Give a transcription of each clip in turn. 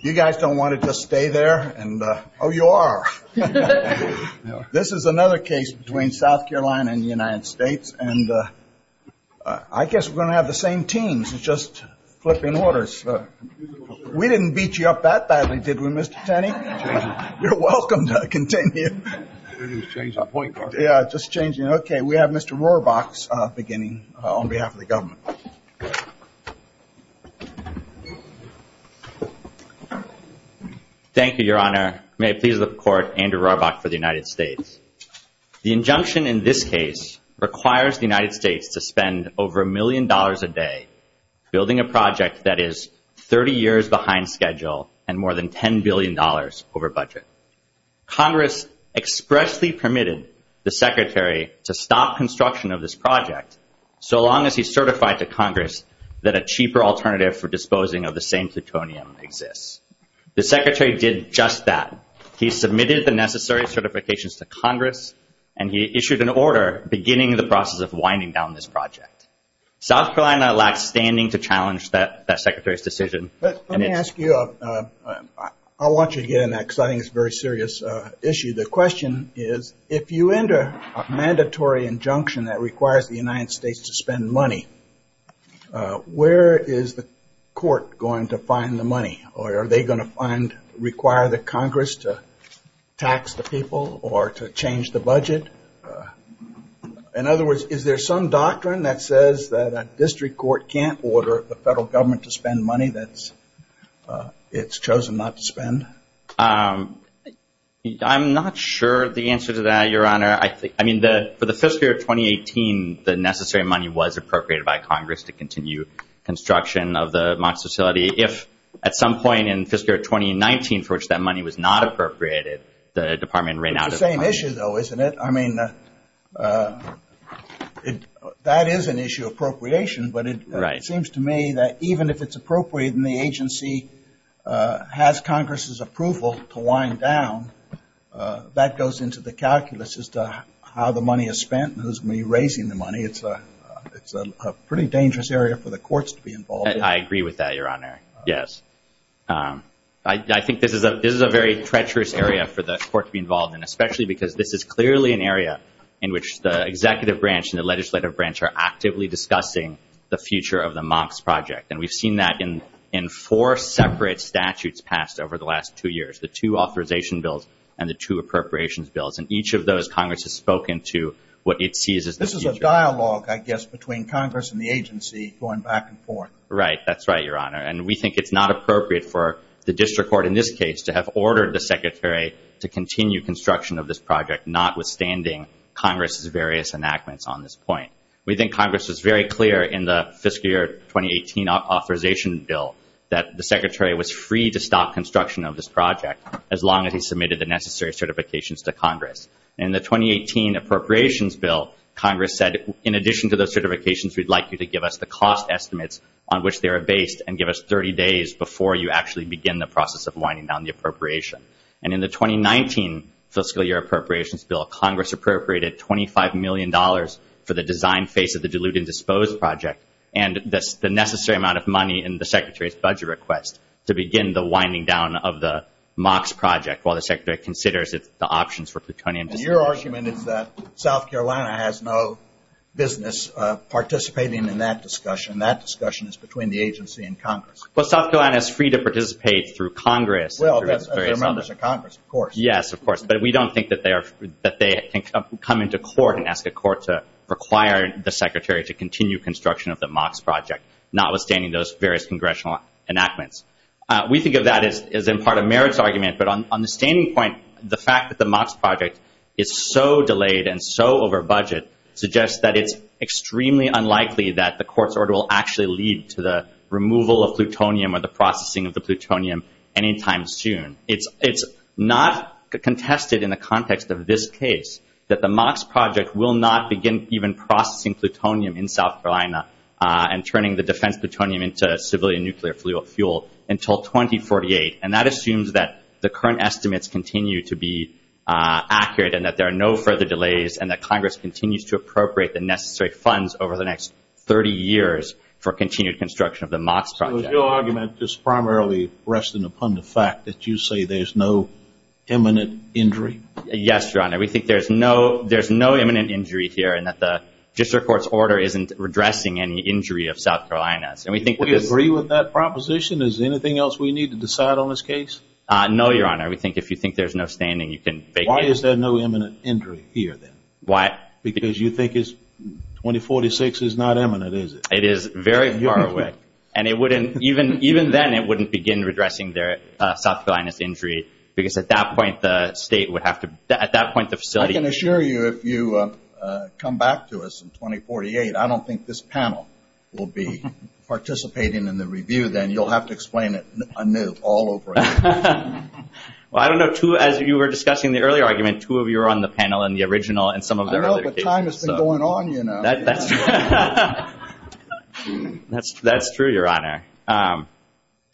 You guys don't want to just stay there? Oh, you are. This is another case between South Carolina and the United States. And I guess we're going to have the same teams. It's just flipping orders. We didn't beat you up that badly, did we, Mr. Tenney? You're welcome to continue. Okay, we have Mr. Rohrbach beginning on behalf of the government. Thank you, Your Honor. May it please the Court, Andrew Rohrbach for the United States. The injunction in this case requires the United States to spend over a million dollars a day building a project that is 30 years behind schedule and more than $10 billion over budget. Congress expressly permitted the Secretary to stop construction of this project so long as he certified to Congress that a cheaper alternative for disposing of the same plutonium exists. The Secretary did just that. He submitted the necessary certifications to Congress and he issued an order beginning the process of winding down this project. South Carolina lacks standing to challenge that Secretary's decision. Let me ask you, I want you to get in that because I think it's a very serious issue. The question is, if you enter a mandatory injunction that requires the United States to spend money, where is the court going to find the money? Are they going to find, require the Congress to tax the people or to change the budget? In other words, is there some doctrine that says that a district court can't order the federal government to spend money that it's chosen not to spend? I'm not sure the answer to that, Your Honor. I mean, for the fiscal year 2018, the necessary money was appropriated by Congress to continue construction of the MOX facility. If at some point in fiscal year 2019 for which that money was not appropriated, the Department ran out of money. It's the same issue, though, isn't it? I mean, that is an issue of appropriation, but it seems to me that even if it's appropriate and the agency has Congress' approval to wind down, that goes into the calculus as to how the money is spent and who's going to be raising the money. It's a pretty dangerous area for the courts to be involved in. I agree with that, Your Honor. Yes. I think this is a very treacherous area for the court to be involved in, especially because this is clearly an area in which the executive branch and the legislative branch are actively discussing the future of the MOX project. And we've seen that in four separate statutes passed over the last two years, the two authorization bills and the two appropriations bills. And each of those, Congress has spoken to what it sees as the future. Right. That's right, Your Honor. And we think it's not appropriate for the district court in this case to have ordered the Secretary to continue construction of this project, notwithstanding Congress' various enactments on this point. We think Congress was very clear in the fiscal year 2018 authorization bill that the Secretary was free to stop construction of this project as long as he submitted the necessary certifications to Congress. In the 2018 appropriations bill, Congress said, in addition to those certifications, we'd like you to give us the cost estimates on which they are based and give us 30 days before you actually begin the process of winding down the appropriation. And in the 2019 fiscal year appropriations bill, Congress appropriated $25 million for the design phase of the dilute and dispose project and the necessary amount of money in the Secretary's budget request to begin the winding down of the MOX project while the Secretary considers the options for plutonium disposal. And your argument is that South Carolina has no business participating in that discussion. That discussion is between the agency and Congress. Well, South Carolina is free to participate through Congress. Well, that's their members of Congress, of course. Yes, of course. But we don't think that they come into court and ask the court to require the Secretary to continue construction of the MOX project, notwithstanding those various congressional enactments. We think of that as in part a merits argument. But on the standing point, the fact that the MOX project is so delayed and so over budget suggests that it's extremely unlikely that the court's order will actually lead to the removal of plutonium or the processing of the plutonium anytime soon. It's not contested in the context of this case that the MOX project will not begin even processing plutonium in South Carolina and turning the defense plutonium into civilian nuclear fuel until 2048. And that assumes that the current estimates continue to be accurate and that there are no further delays and that Congress continues to appropriate the necessary funds over the next 30 years for continued construction of the MOX project. Was your argument just primarily resting upon the fact that you say there's no imminent injury? Yes, Your Honor. We think there's no imminent injury here and that the district court's order isn't addressing any injury of South Carolina. Do you agree with that proposition? Is there anything else we need to decide on this case? No, Your Honor. We think if you think there's no standing, you can make it. Why is there no imminent injury here, then? Why? Because you think 2046 is not imminent, is it? It is very far away. And even then, it wouldn't begin addressing their South Carolina's injury because at that point, the state would have to – at that point, the facility – I can assure you if you come back to us in 2048, I don't think this panel will be participating in the review then. You'll have to explain it anew all over again. Well, I don't know. As you were discussing the earlier argument, two of you were on the panel in the original and some of the other cases. Time has been going on, you know. That's true, Your Honor.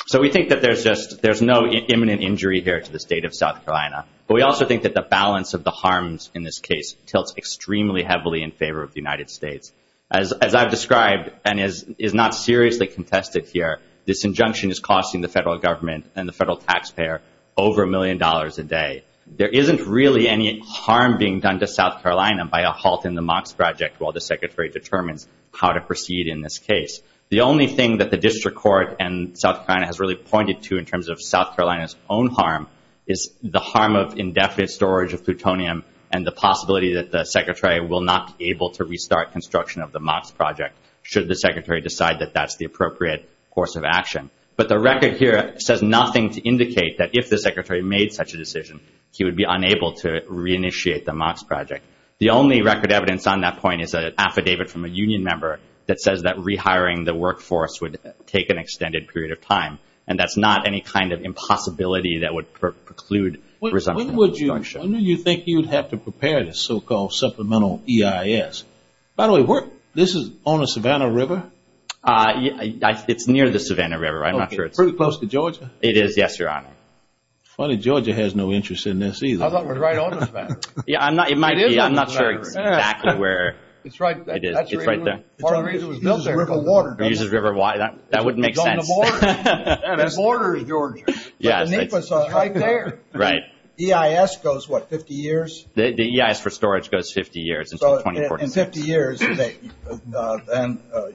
So we think that there's just – there's no imminent injury here to the state of South Carolina. But we also think that the balance of the harms in this case tilts extremely heavily in favor of the United States. As I've described and is not seriously contested here, this injunction is costing the federal government and the federal taxpayer over a million dollars a day. There isn't really any harm being done to South Carolina by a halt in the MOX project while the Secretary determines how to proceed in this case. The only thing that the district court and South Carolina has really pointed to in terms of South Carolina's own harm is the harm of indefinite storage of plutonium and the possibility that the Secretary will not be able to restart construction of the MOX project should the Secretary decide that that's the appropriate course of action. But the record here says nothing to indicate that if the Secretary made such a decision, he would be unable to reinitiate the MOX project. The only record evidence on that point is an affidavit from a union member that says that rehiring the workforce would take an extended period of time. And that's not any kind of impossibility that would preclude resumption of construction. When would you – when do you think you'd have to prepare this so-called supplemental EIS? By the way, this is on the Savannah River? It's near the Savannah River. I'm not sure it's – Pretty close to Georgia? It is, yes, Your Honor. Funny, Georgia has no interest in this either. I thought it was right on the Savannah River. Yeah, I'm not – it might be. I'm not sure exactly where – It's right – It is. It's right there. Part of the reason it was built there. It uses river water, doesn't it? It uses river water. That wouldn't make sense. It's on the border. It's on the border of Georgia. Yes. But the NEPA's right there. Right. EIS goes, what, 50 years? The EIS for storage goes 50 years. So in 50 years, then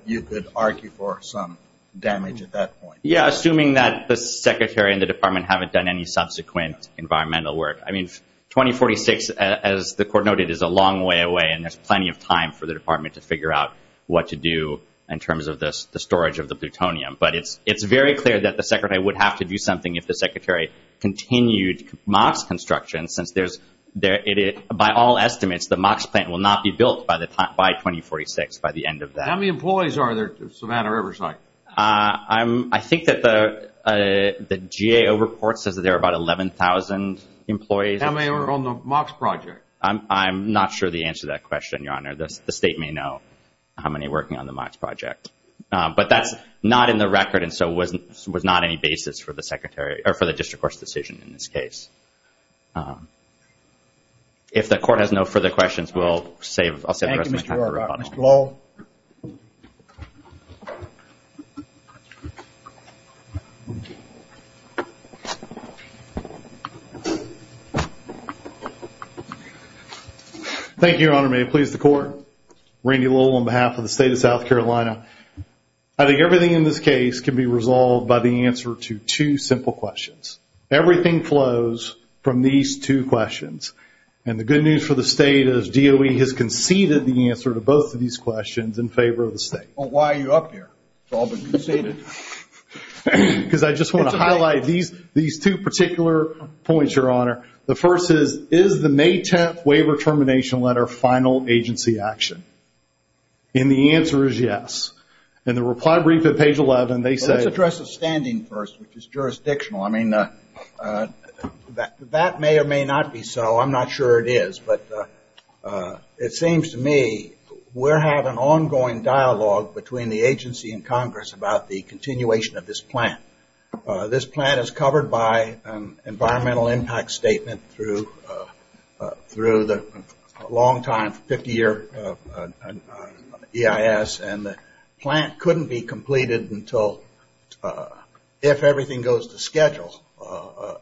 you could argue for some damage at that point. Yeah, assuming that the Secretary and the Department haven't done any subsequent environmental work. I mean, 2046, as the Court noted, is a long way away, and there's plenty of time for the Department to figure out what to do in terms of the storage of the plutonium. But it's very clear that the Secretary would have to do something if the Secretary continued MOX construction, since there's – by all estimates, the MOX plant will not be built by 2046, by the end of that. How many employees are there at Savannah Riverside? I think that the GAO report says that there are about 11,000 employees. How many are on the MOX project? I'm not sure the answer to that question, Your Honor. The State may know how many are working on the MOX project. But that's not in the record, and so it was not any basis for the District Court's decision in this case. If the Court has no further questions, I'll save the rest of my time for rebuttal. Thank you, Mr. O'Rourke. Mr. Lowell. Thank you, Your Honor. May it please the Court. Randy Lowell on behalf of the State of South Carolina. I think everything in this case can be resolved by the answer to two simple questions. Everything flows from these two questions. And the good news for the State is DOE has conceded the answer to both of these questions in favor of the State. Well, why are you up here? It's all been conceded. Because I just want to highlight these two particular points, Your Honor. The first is, is the May 10th waiver termination letter final agency action? And the answer is yes. In the reply brief at page 11, they say- Let's address the standing first, which is jurisdictional. I mean, that may or may not be so. I'm not sure it is. But it seems to me we're having ongoing dialogue between the agency and Congress about the continuation of this plan. This plan is covered by an environmental impact statement through the long time 50-year EIS. And the plan couldn't be completed until, if everything goes to schedule,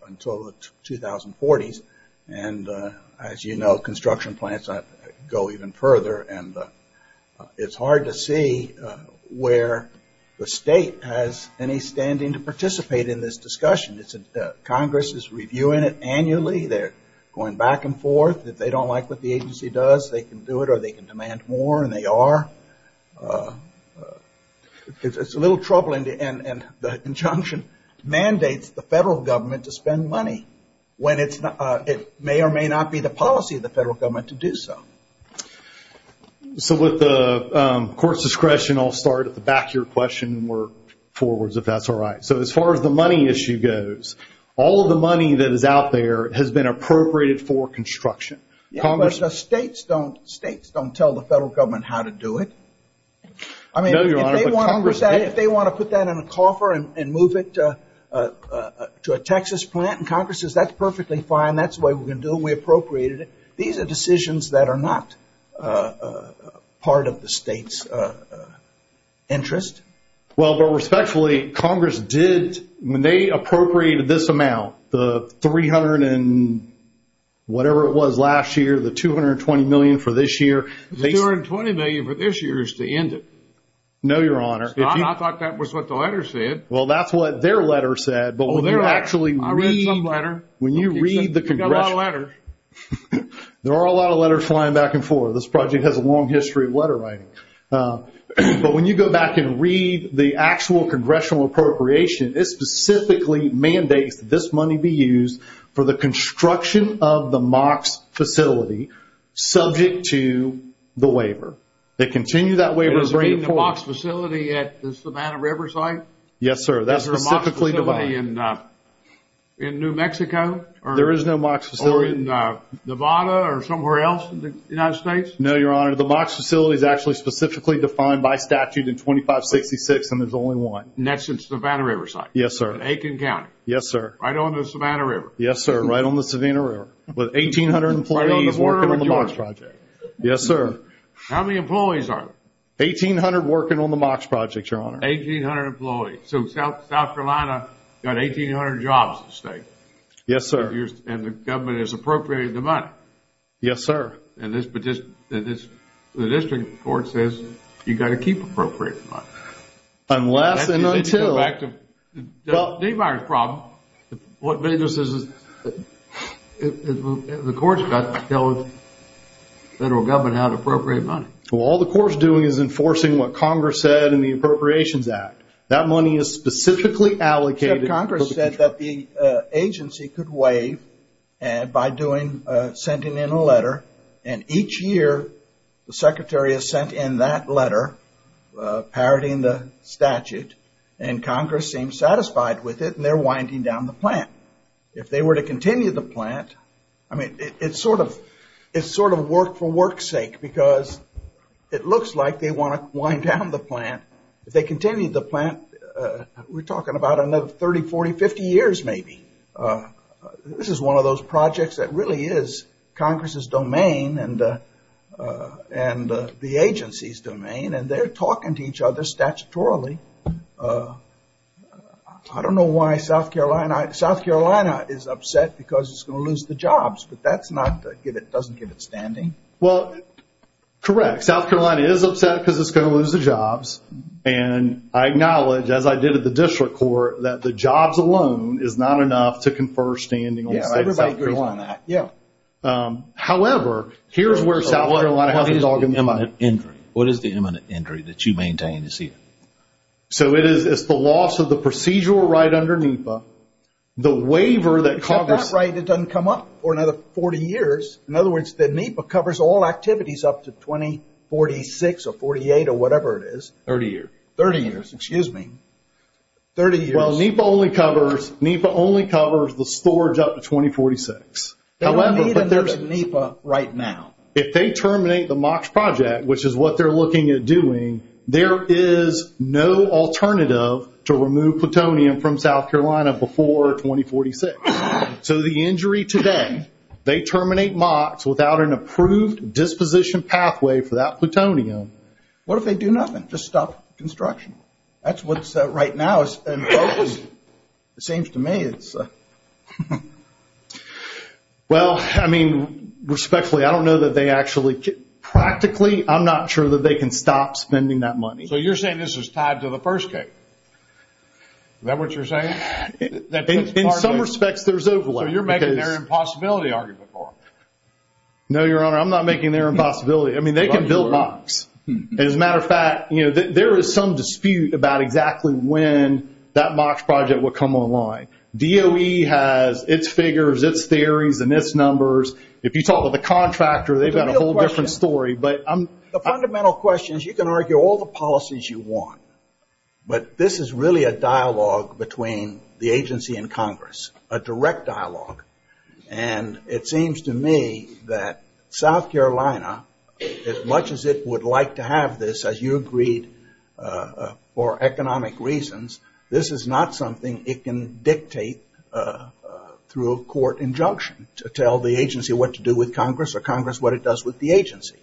until the 2040s. And as you know, construction plans go even further. And it's hard to see where the State has any standing to participate in this discussion. Congress is reviewing it annually. They're going back and forth. If they don't like what the agency does, they can do it or they can demand more. And they are. It's a little troubling. And the injunction mandates the federal government to spend money when it may or may not be the policy of the federal government to do so. So with the court's discretion, I'll start at the back of your question and work forwards if that's all right. So as far as the money issue goes, all of the money that is out there has been appropriated for construction. Yeah, but the states don't tell the federal government how to do it. I mean, if they want to put that in a coffer and move it to a Texas plant, and Congress says that's perfectly fine, that's the way we're going to do it and we appropriated it. These are decisions that are not part of the state's interest. Well, but respectfully, Congress did, when they appropriated this amount, the $300 and whatever it was last year, the $220 million for this year. The $220 million for this year is to end it. No, Your Honor. I thought that was what the letter said. Well, that's what their letter said. I read some letter. You've got a lot of letters. There are a lot of letters flying back and forth. This project has a long history of letter writing. But when you go back and read the actual congressional appropriation, it specifically mandates that this money be used for the construction of the MOX facility subject to the waiver. They continue that waiver to bring it forward. Does it mean the MOX facility at the Savannah River site? Yes, sir. That's specifically defined. Is there a MOX facility in New Mexico? There is no MOX facility. Or in Nevada or somewhere else in the United States? No, Your Honor. The MOX facility is actually specifically defined by statute in 2566, and there's only one. And that's in Savannah River site? Yes, sir. In Aiken County? Yes, sir. Right on the Savannah River? Yes, sir. Right on the Savannah River. With 1,800 employees working on the MOX project. Yes, sir. How many employees are there? 1,800 working on the MOX project, Your Honor. 1,800 employees. So South Carolina got 1,800 jobs in the state. Yes, sir. And the government has appropriated the money. Yes, sir. And the district court says you've got to keep appropriated money. Unless and until... To go back to Dave Meyers' problem, the court's got to tell the federal government how to appropriate money. Well, all the court's doing is enforcing what Congress said in the Appropriations Act. That money is specifically allocated... Except Congress said that the agency could waive by sending in a letter, and each year the Secretary has sent in that letter, parroting the statute, and Congress seems satisfied with it, and they're winding down the plant. If they were to continue the plant, I mean, it's sort of work for work's sake, because it looks like they want to wind down the plant. If they continue the plant, we're talking about another 30, 40, 50 years, maybe. This is one of those projects that really is Congress's domain and the agency's domain, and they're talking to each other statutorily. I don't know why South Carolina... South Carolina is upset because it's going to lose the jobs, but that doesn't give it standing. Well, correct. South Carolina is upset because it's going to lose the jobs, and I acknowledge, as I did at the district court, that the jobs alone is not enough to confer standing on the State of South Carolina. Yeah, everybody agrees on that. Yeah. However, here's where South Carolina... What is the imminent injury? What is the imminent injury that you maintain this year? It's the loss of the procedural right under NEPA, the waiver that Congress... That right, it doesn't come up for another 40 years. In other words, the NEPA covers all activities up to 2046 or 48 or whatever it is. 30 years. 30 years, excuse me. 30 years. Well, NEPA only covers the storage up to 2046. However, but there's NEPA right now. If they terminate the MOX project, which is what they're looking at doing, there is no alternative to remove plutonium from South Carolina before 2046. So the injury today, they terminate MOX without an approved disposition pathway for that plutonium. What if they do nothing? Just stop construction? That's what's right now is in focus. It seems to me it's... Well, I mean, respectfully, I don't know that they actually... Practically, I'm not sure that they can stop spending that money. So you're saying this is tied to the first case? Is that what you're saying? In some respects, there's overlap. So you're making their impossibility argument for them? No, Your Honor, I'm not making their impossibility. I mean, they can build MOX. As a matter of fact, there is some dispute about exactly when that MOX project will come online. DOE has its figures, its theories, and its numbers. If you talk to the contractor, they've got a whole different story. The fundamental question is you can argue all the policies you want, but this is really a dialogue between the agency and Congress, a direct dialogue. And it seems to me that South Carolina, as much as it would like to have this, as you agreed, for economic reasons, this is not something it can dictate through a court injunction to tell the agency what to do with Congress or Congress what it does with the agency.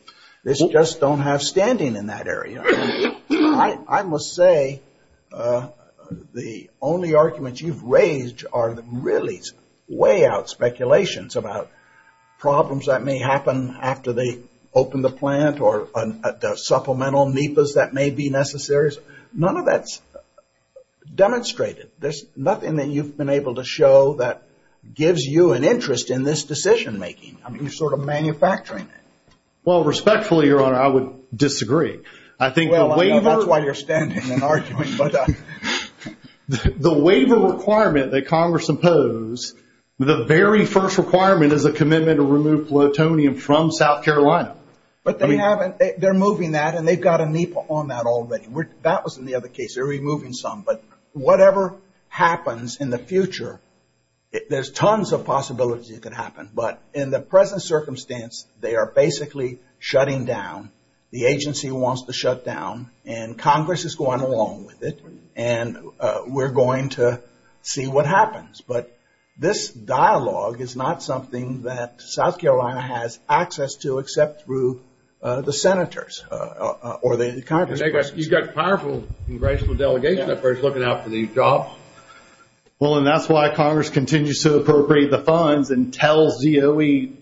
They just don't have standing in that area. I must say the only arguments you've raised are really way out speculations about problems that may happen after they open the plant or supplemental NEPAs that may be necessary. None of that's demonstrated. There's nothing that you've been able to show that gives you an interest in this decision making. I mean, you're sort of manufacturing it. Well, respectfully, Your Honor, I would disagree. That's why you're standing and arguing. The waiver requirement that Congress impose, the very first requirement is a commitment to remove plutonium from South Carolina. But they're moving that, and they've got a NEPA on that already. That was in the other case. They're removing some. But whatever happens in the future, there's tons of possibilities it could happen. But in the present circumstance, they are basically shutting down. The agency wants to shut down, and Congress is going along with it, and we're going to see what happens. But this dialogue is not something that South Carolina has access to except through the senators or the Congress person. You've got a powerful congressional delegation that's already looking out for these jobs. Well, and that's why Congress continues to appropriate the funds and tells ZOE,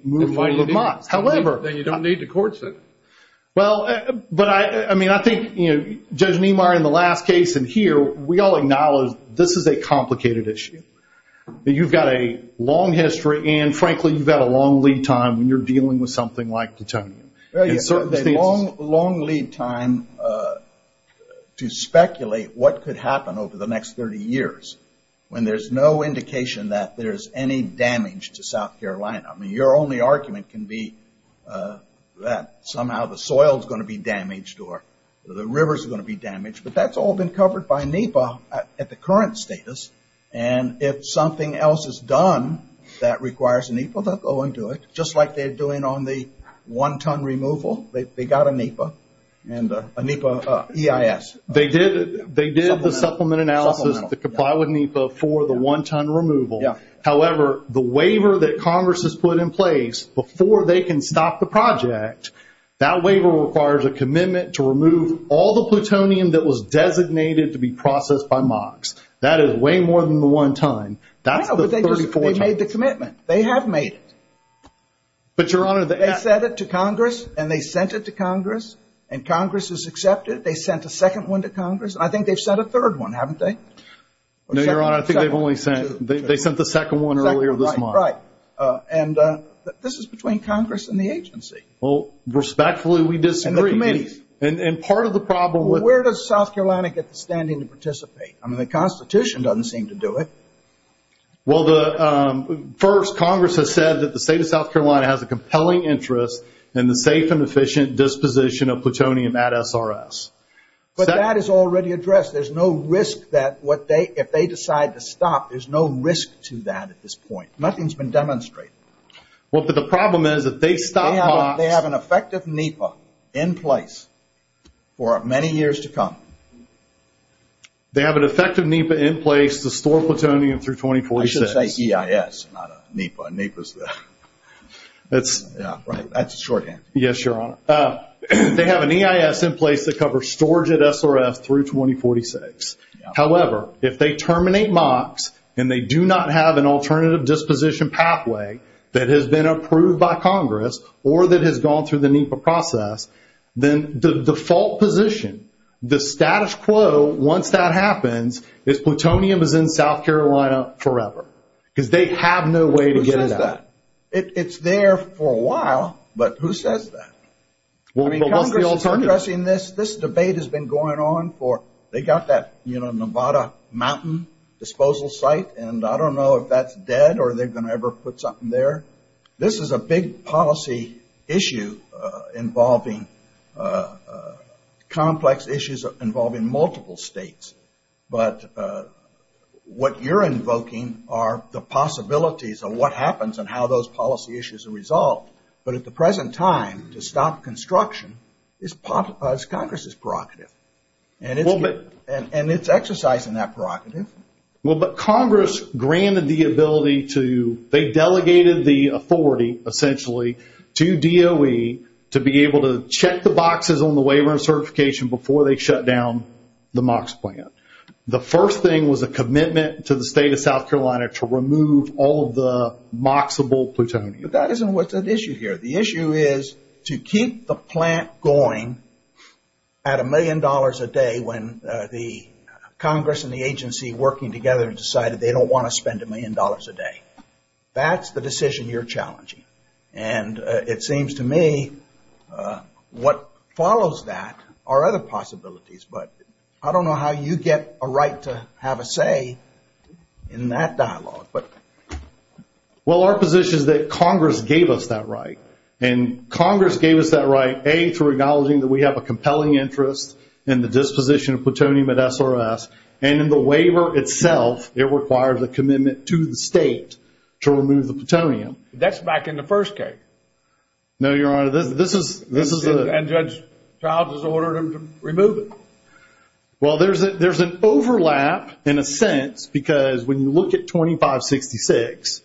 However. Then you don't need the court. Well, but I mean, I think, you know, Judge Niemeyer, in the last case and here, we all acknowledge this is a complicated issue. You've got a long history, and frankly, you've got a long lead time when you're dealing with something like plutonium. A long lead time to speculate what could happen over the next 30 years when there's no indication that there's any damage to South Carolina. I mean, your only argument can be that somehow the soil is going to be damaged or the river is going to be damaged. But that's all been covered by NEPA at the current status, and if something else is done that requires NEPA, they'll go and do it, just like they're doing on the one-ton removal. They got a NEPA and a NEPA EIS. They did the supplement analysis that comply with NEPA for the one-ton removal. However, the waiver that Congress has put in place before they can stop the project, that waiver requires a commitment to remove all the plutonium that was designated to be processed by MOX. That is way more than the one-ton. That's the 34-ton. No, but they made the commitment. They have made it. But, Your Honor, they asked. They sent it to Congress, and they sent it to Congress, and Congress has accepted it. They sent a second one to Congress. I think they've sent a third one, haven't they? No, Your Honor, I think they've only sent the second one earlier this month. Right. And this is between Congress and the agency. Well, respectfully, we disagree. And the committees. And part of the problem with Well, where does South Carolina get the standing to participate? I mean, the Constitution doesn't seem to do it. Well, first, Congress has said that the state of South Carolina has a compelling interest in the safe and efficient disposition of plutonium at SRS. But that is already addressed. There's no risk that if they decide to stop, there's no risk to that at this point. Nothing's been demonstrated. Well, but the problem is, if they stop HOTS They have an effective NEPA in place for many years to come. They have an effective NEPA in place to store plutonium through 2046. I should say EIS, not a NEPA. A NEPA is the That's Right, that's a shorthand. Yes, Your Honor. They have an EIS in place to cover storage at SRS through 2046. However, if they terminate MOCS, and they do not have an alternative disposition pathway that has been approved by Congress, or that has gone through the NEPA process, then the default position, the status quo, once that happens, is plutonium is in South Carolina forever. Because they have no way to get it out. Who says that? It's there for a while, but who says that? I mean, Congress is addressing this. This debate has been going on for They got that Nevada mountain disposal site, and I don't know if that's dead or they're going to ever put something there. This is a big policy issue involving complex issues involving multiple states. But what you're invoking are the possibilities of what happens and how those policy issues are resolved. But at the present time, to stop construction is Congress's prerogative. And it's exercising that prerogative. Well, but Congress granted the ability to They delegated the authority, essentially, to DOE to be able to check the boxes on the waiver and certification before they shut down the MOCS plant. The first thing was a commitment to the state of South Carolina to remove all of the MOCSable plutonium. But that isn't what's at issue here. The issue is to keep the plant going at a million dollars a day when the Congress and the agency working together decided they don't want to spend a million dollars a day. That's the decision you're challenging. And it seems to me what follows that are other possibilities. But I don't know how you get a right to have a say in that dialogue. Well, our position is that Congress gave us that right. And Congress gave us that right, A, through acknowledging that we have a compelling interest in the disposition of plutonium at SRS. And in the waiver itself, it requires a commitment to the state to remove the plutonium. That's back in the first case. No, Your Honor, this is a And Judge Childs has ordered them to remove it. Well, there's an overlap in a sense because when you look at 2566,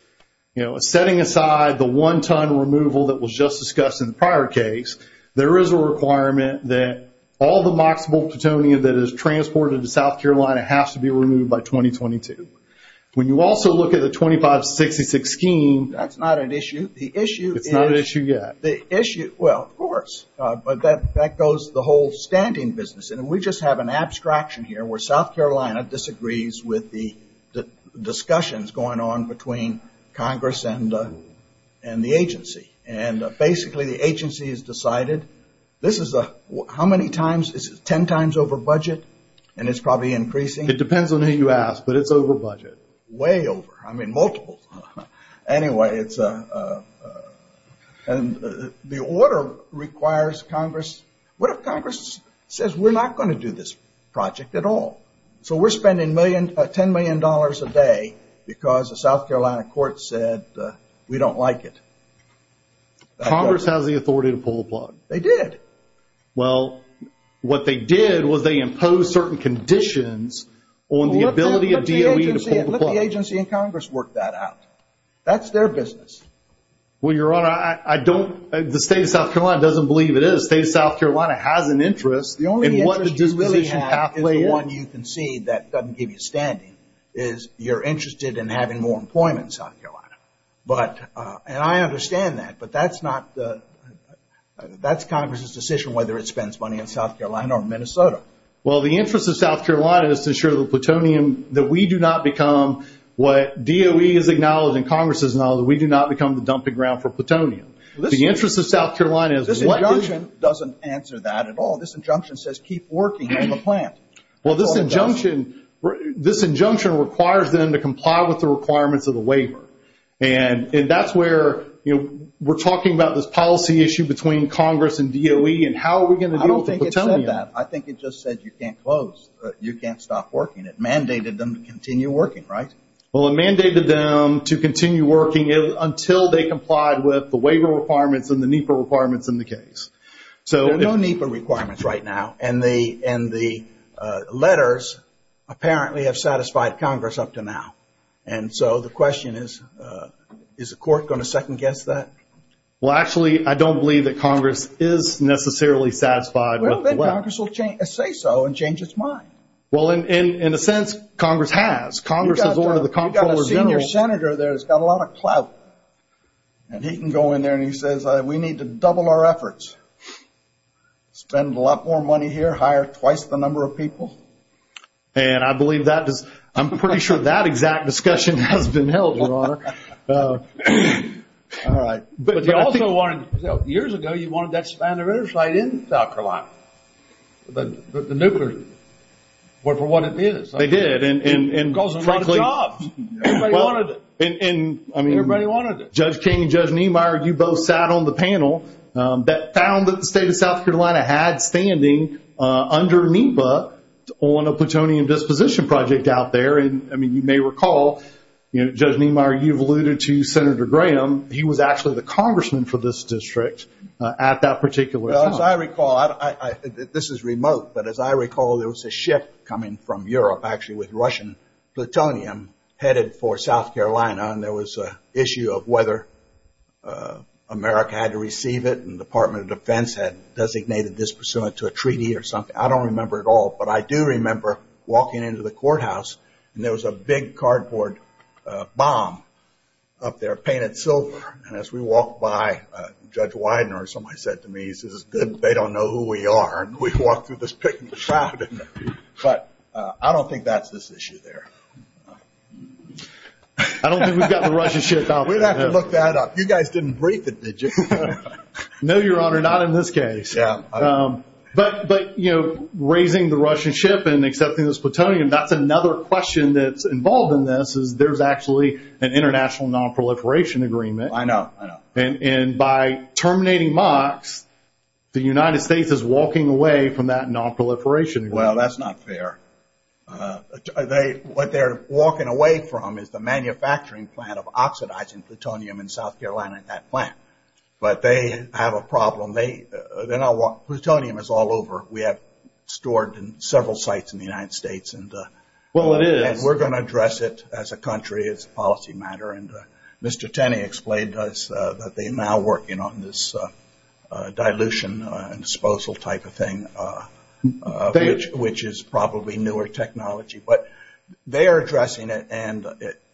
setting aside the one-ton removal that was just discussed in the prior case, there is a requirement that all the MOCSable plutonium that is transported to South Carolina has to be removed by 2022. When you also look at the 2566 scheme, That's not at issue. The issue is It's not at issue yet. Well, of course. But that goes the whole standing business. And we just have an abstraction here where South Carolina disagrees with the discussions going on between Congress and the agency. And basically, the agency has decided this is a How many times? Is it 10 times over budget? And it's probably increasing. It depends on who you ask, but it's over budget. Way over. I mean, multiple. Anyway, it's a And the order requires Congress What if Congress says we're not going to do this project at all? So we're spending $10 million a day because the South Carolina court said we don't like it. Congress has the authority to pull the plug. They did. Well, what they did was they imposed certain conditions on the ability of DOE to pull the plug. And let the agency and Congress work that out. That's their business. Well, Your Honor, I don't The state of South Carolina doesn't believe it is. The state of South Carolina has an interest. The only interest you really have is the one you concede that doesn't give you standing is you're interested in having more employment in South Carolina. And I understand that, but that's not That's Congress's decision whether it spends money in South Carolina or Minnesota. Well, the interest of South Carolina is to ensure the plutonium that we do not become what DOE is acknowledging, Congress is acknowledging that we do not become the dumping ground for plutonium. The interest of South Carolina is This injunction doesn't answer that at all. This injunction says keep working on the plant. Well, this injunction requires them to comply with the requirements of the waiver. And that's where we're talking about this policy issue between Congress and DOE and how are we going to deal with the plutonium. I think it just said you can't close, you can't stop working. It mandated them to continue working, right? Well, it mandated them to continue working until they complied with the waiver requirements and the NEPA requirements in the case. There are no NEPA requirements right now. And the letters apparently have satisfied Congress up to now. And so the question is, is the court going to second-guess that? Well, then Congress will say so and change its mind. Well, in a sense, Congress has. Congress has ordered the Comptroller General. You've got a senior senator there that's got a lot of clout. And he can go in there and he says, we need to double our efforts, spend a lot more money here, hire twice the number of people. And I believe that is, I'm pretty sure that exact discussion has been held, Your Honor. All right. But you also wanted, years ago, you wanted that Spanner Interstate in South Carolina, the nuclear, for what it is. They did. And it caused a lot of jobs. Everybody wanted it. And, I mean, Judge King and Judge Niemeyer, you both sat on the panel that found that the state of South Carolina had standing under NEPA on a plutonium disposition project out there. And, I mean, you may recall, Judge Niemeyer, you've alluded to Senator Graham. He was actually the congressman for this district at that particular time. As I recall, this is remote, but as I recall, there was a ship coming from Europe actually with Russian plutonium headed for South Carolina. And there was an issue of whether America had to receive it and the Department of Defense had designated this pursuant to a treaty or something. I don't remember it all. But I do remember walking into the courthouse, and there was a big cardboard bomb up there painted silver. And as we walked by, Judge Widener or somebody said to me, he says, Good, they don't know who we are. And we walked through this big crowd. But I don't think that's this issue there. I don't think we've got the Russian ship out there. We'd have to look that up. You guys didn't brief it, did you? No, Your Honor, not in this case. But, you know, raising the Russian ship and accepting this plutonium, that's another question that's involved in this, is there's actually an international nonproliferation agreement. I know, I know. And by terminating MOX, the United States is walking away from that nonproliferation agreement. Well, that's not fair. What they're walking away from is the manufacturing plant of oxidizing plutonium in South Carolina at that plant. But they have a problem. Plutonium is all over. We have stored in several sites in the United States. Well, it is. And we're going to address it as a country. It's a policy matter. And Mr. Tenney explained to us that they're now working on this dilution and disposal type of thing, which is probably newer technology. But they are addressing it, and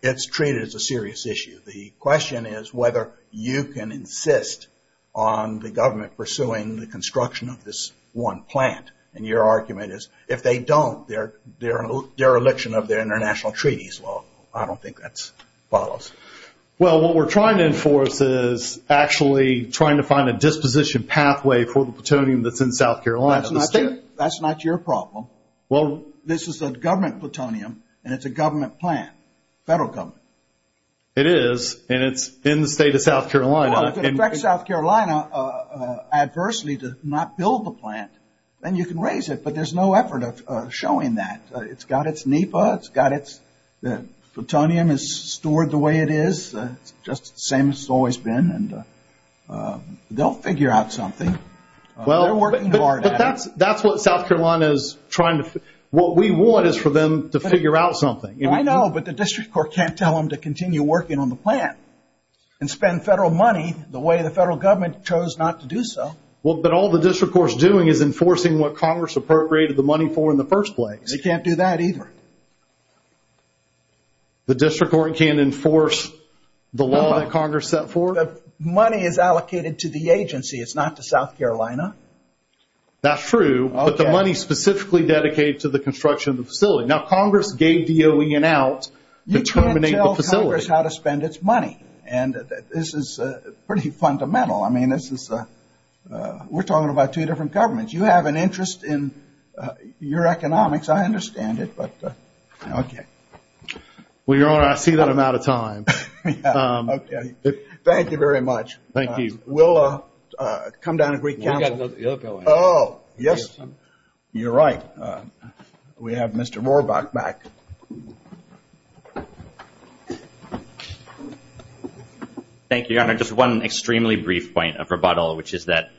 it's treated as a serious issue. The question is whether you can insist on the government pursuing the construction of this one plant. And your argument is if they don't, they're a dereliction of their international treaties. Well, I don't think that follows. Well, what we're trying to enforce is actually trying to find a disposition pathway for the plutonium that's in South Carolina. That's not your problem. This is a government plutonium, and it's a government plant, federal government. It is, and it's in the state of South Carolina. Well, if it affects South Carolina adversely to not build the plant, then you can raise it. But there's no effort of showing that. It's got its NEPA. It's got its plutonium is stored the way it is. It's just the same as it's always been. And they'll figure out something. They're working hard at it. That's what South Carolina is trying to do. What we want is for them to figure out something. I know, but the district court can't tell them to continue working on the plant and spend federal money the way the federal government chose not to do so. Well, but all the district court's doing is enforcing what Congress appropriated the money for in the first place. They can't do that either. The district court can't enforce the law that Congress set forth? The money is allocated to the agency. It's not to South Carolina. That's true. But the money's specifically dedicated to the construction of the facility. Now, Congress gave DOE an out to terminate the facility. You can't tell Congress how to spend its money. And this is pretty fundamental. I mean, we're talking about two different governments. You have an interest in your economics. I understand it, but okay. Well, Your Honor, I see that I'm out of time. Okay. Thank you very much. Thank you. We'll come down to Greek Council. Oh, yes. You're right. We have Mr. Rohrbach back. Thank you, Your Honor. Just one extremely brief point of rebuttal, which is that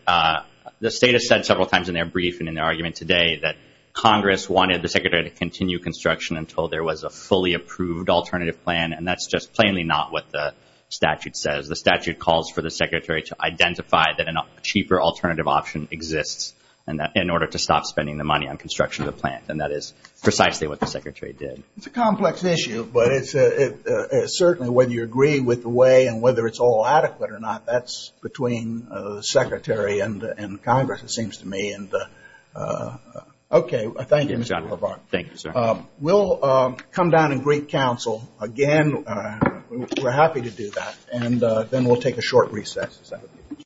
the State has said several times in their brief and in their argument today that Congress wanted the Secretary to continue construction until there was a fully approved alternative plan, and that's just plainly not what the statute says. The statute calls for the Secretary to identify that a cheaper alternative option exists in order to stop spending the money on construction of the plant, and that is precisely what the Secretary did. It's a complex issue, but certainly whether you agree with the way and whether it's all adequate or not, that's between the Secretary and Congress, it seems to me. Okay. Thank you, Mr. Rohrbach. Thank you, sir. We'll come down to Greek Council again. We're happy to do that. And then we'll take a short recess.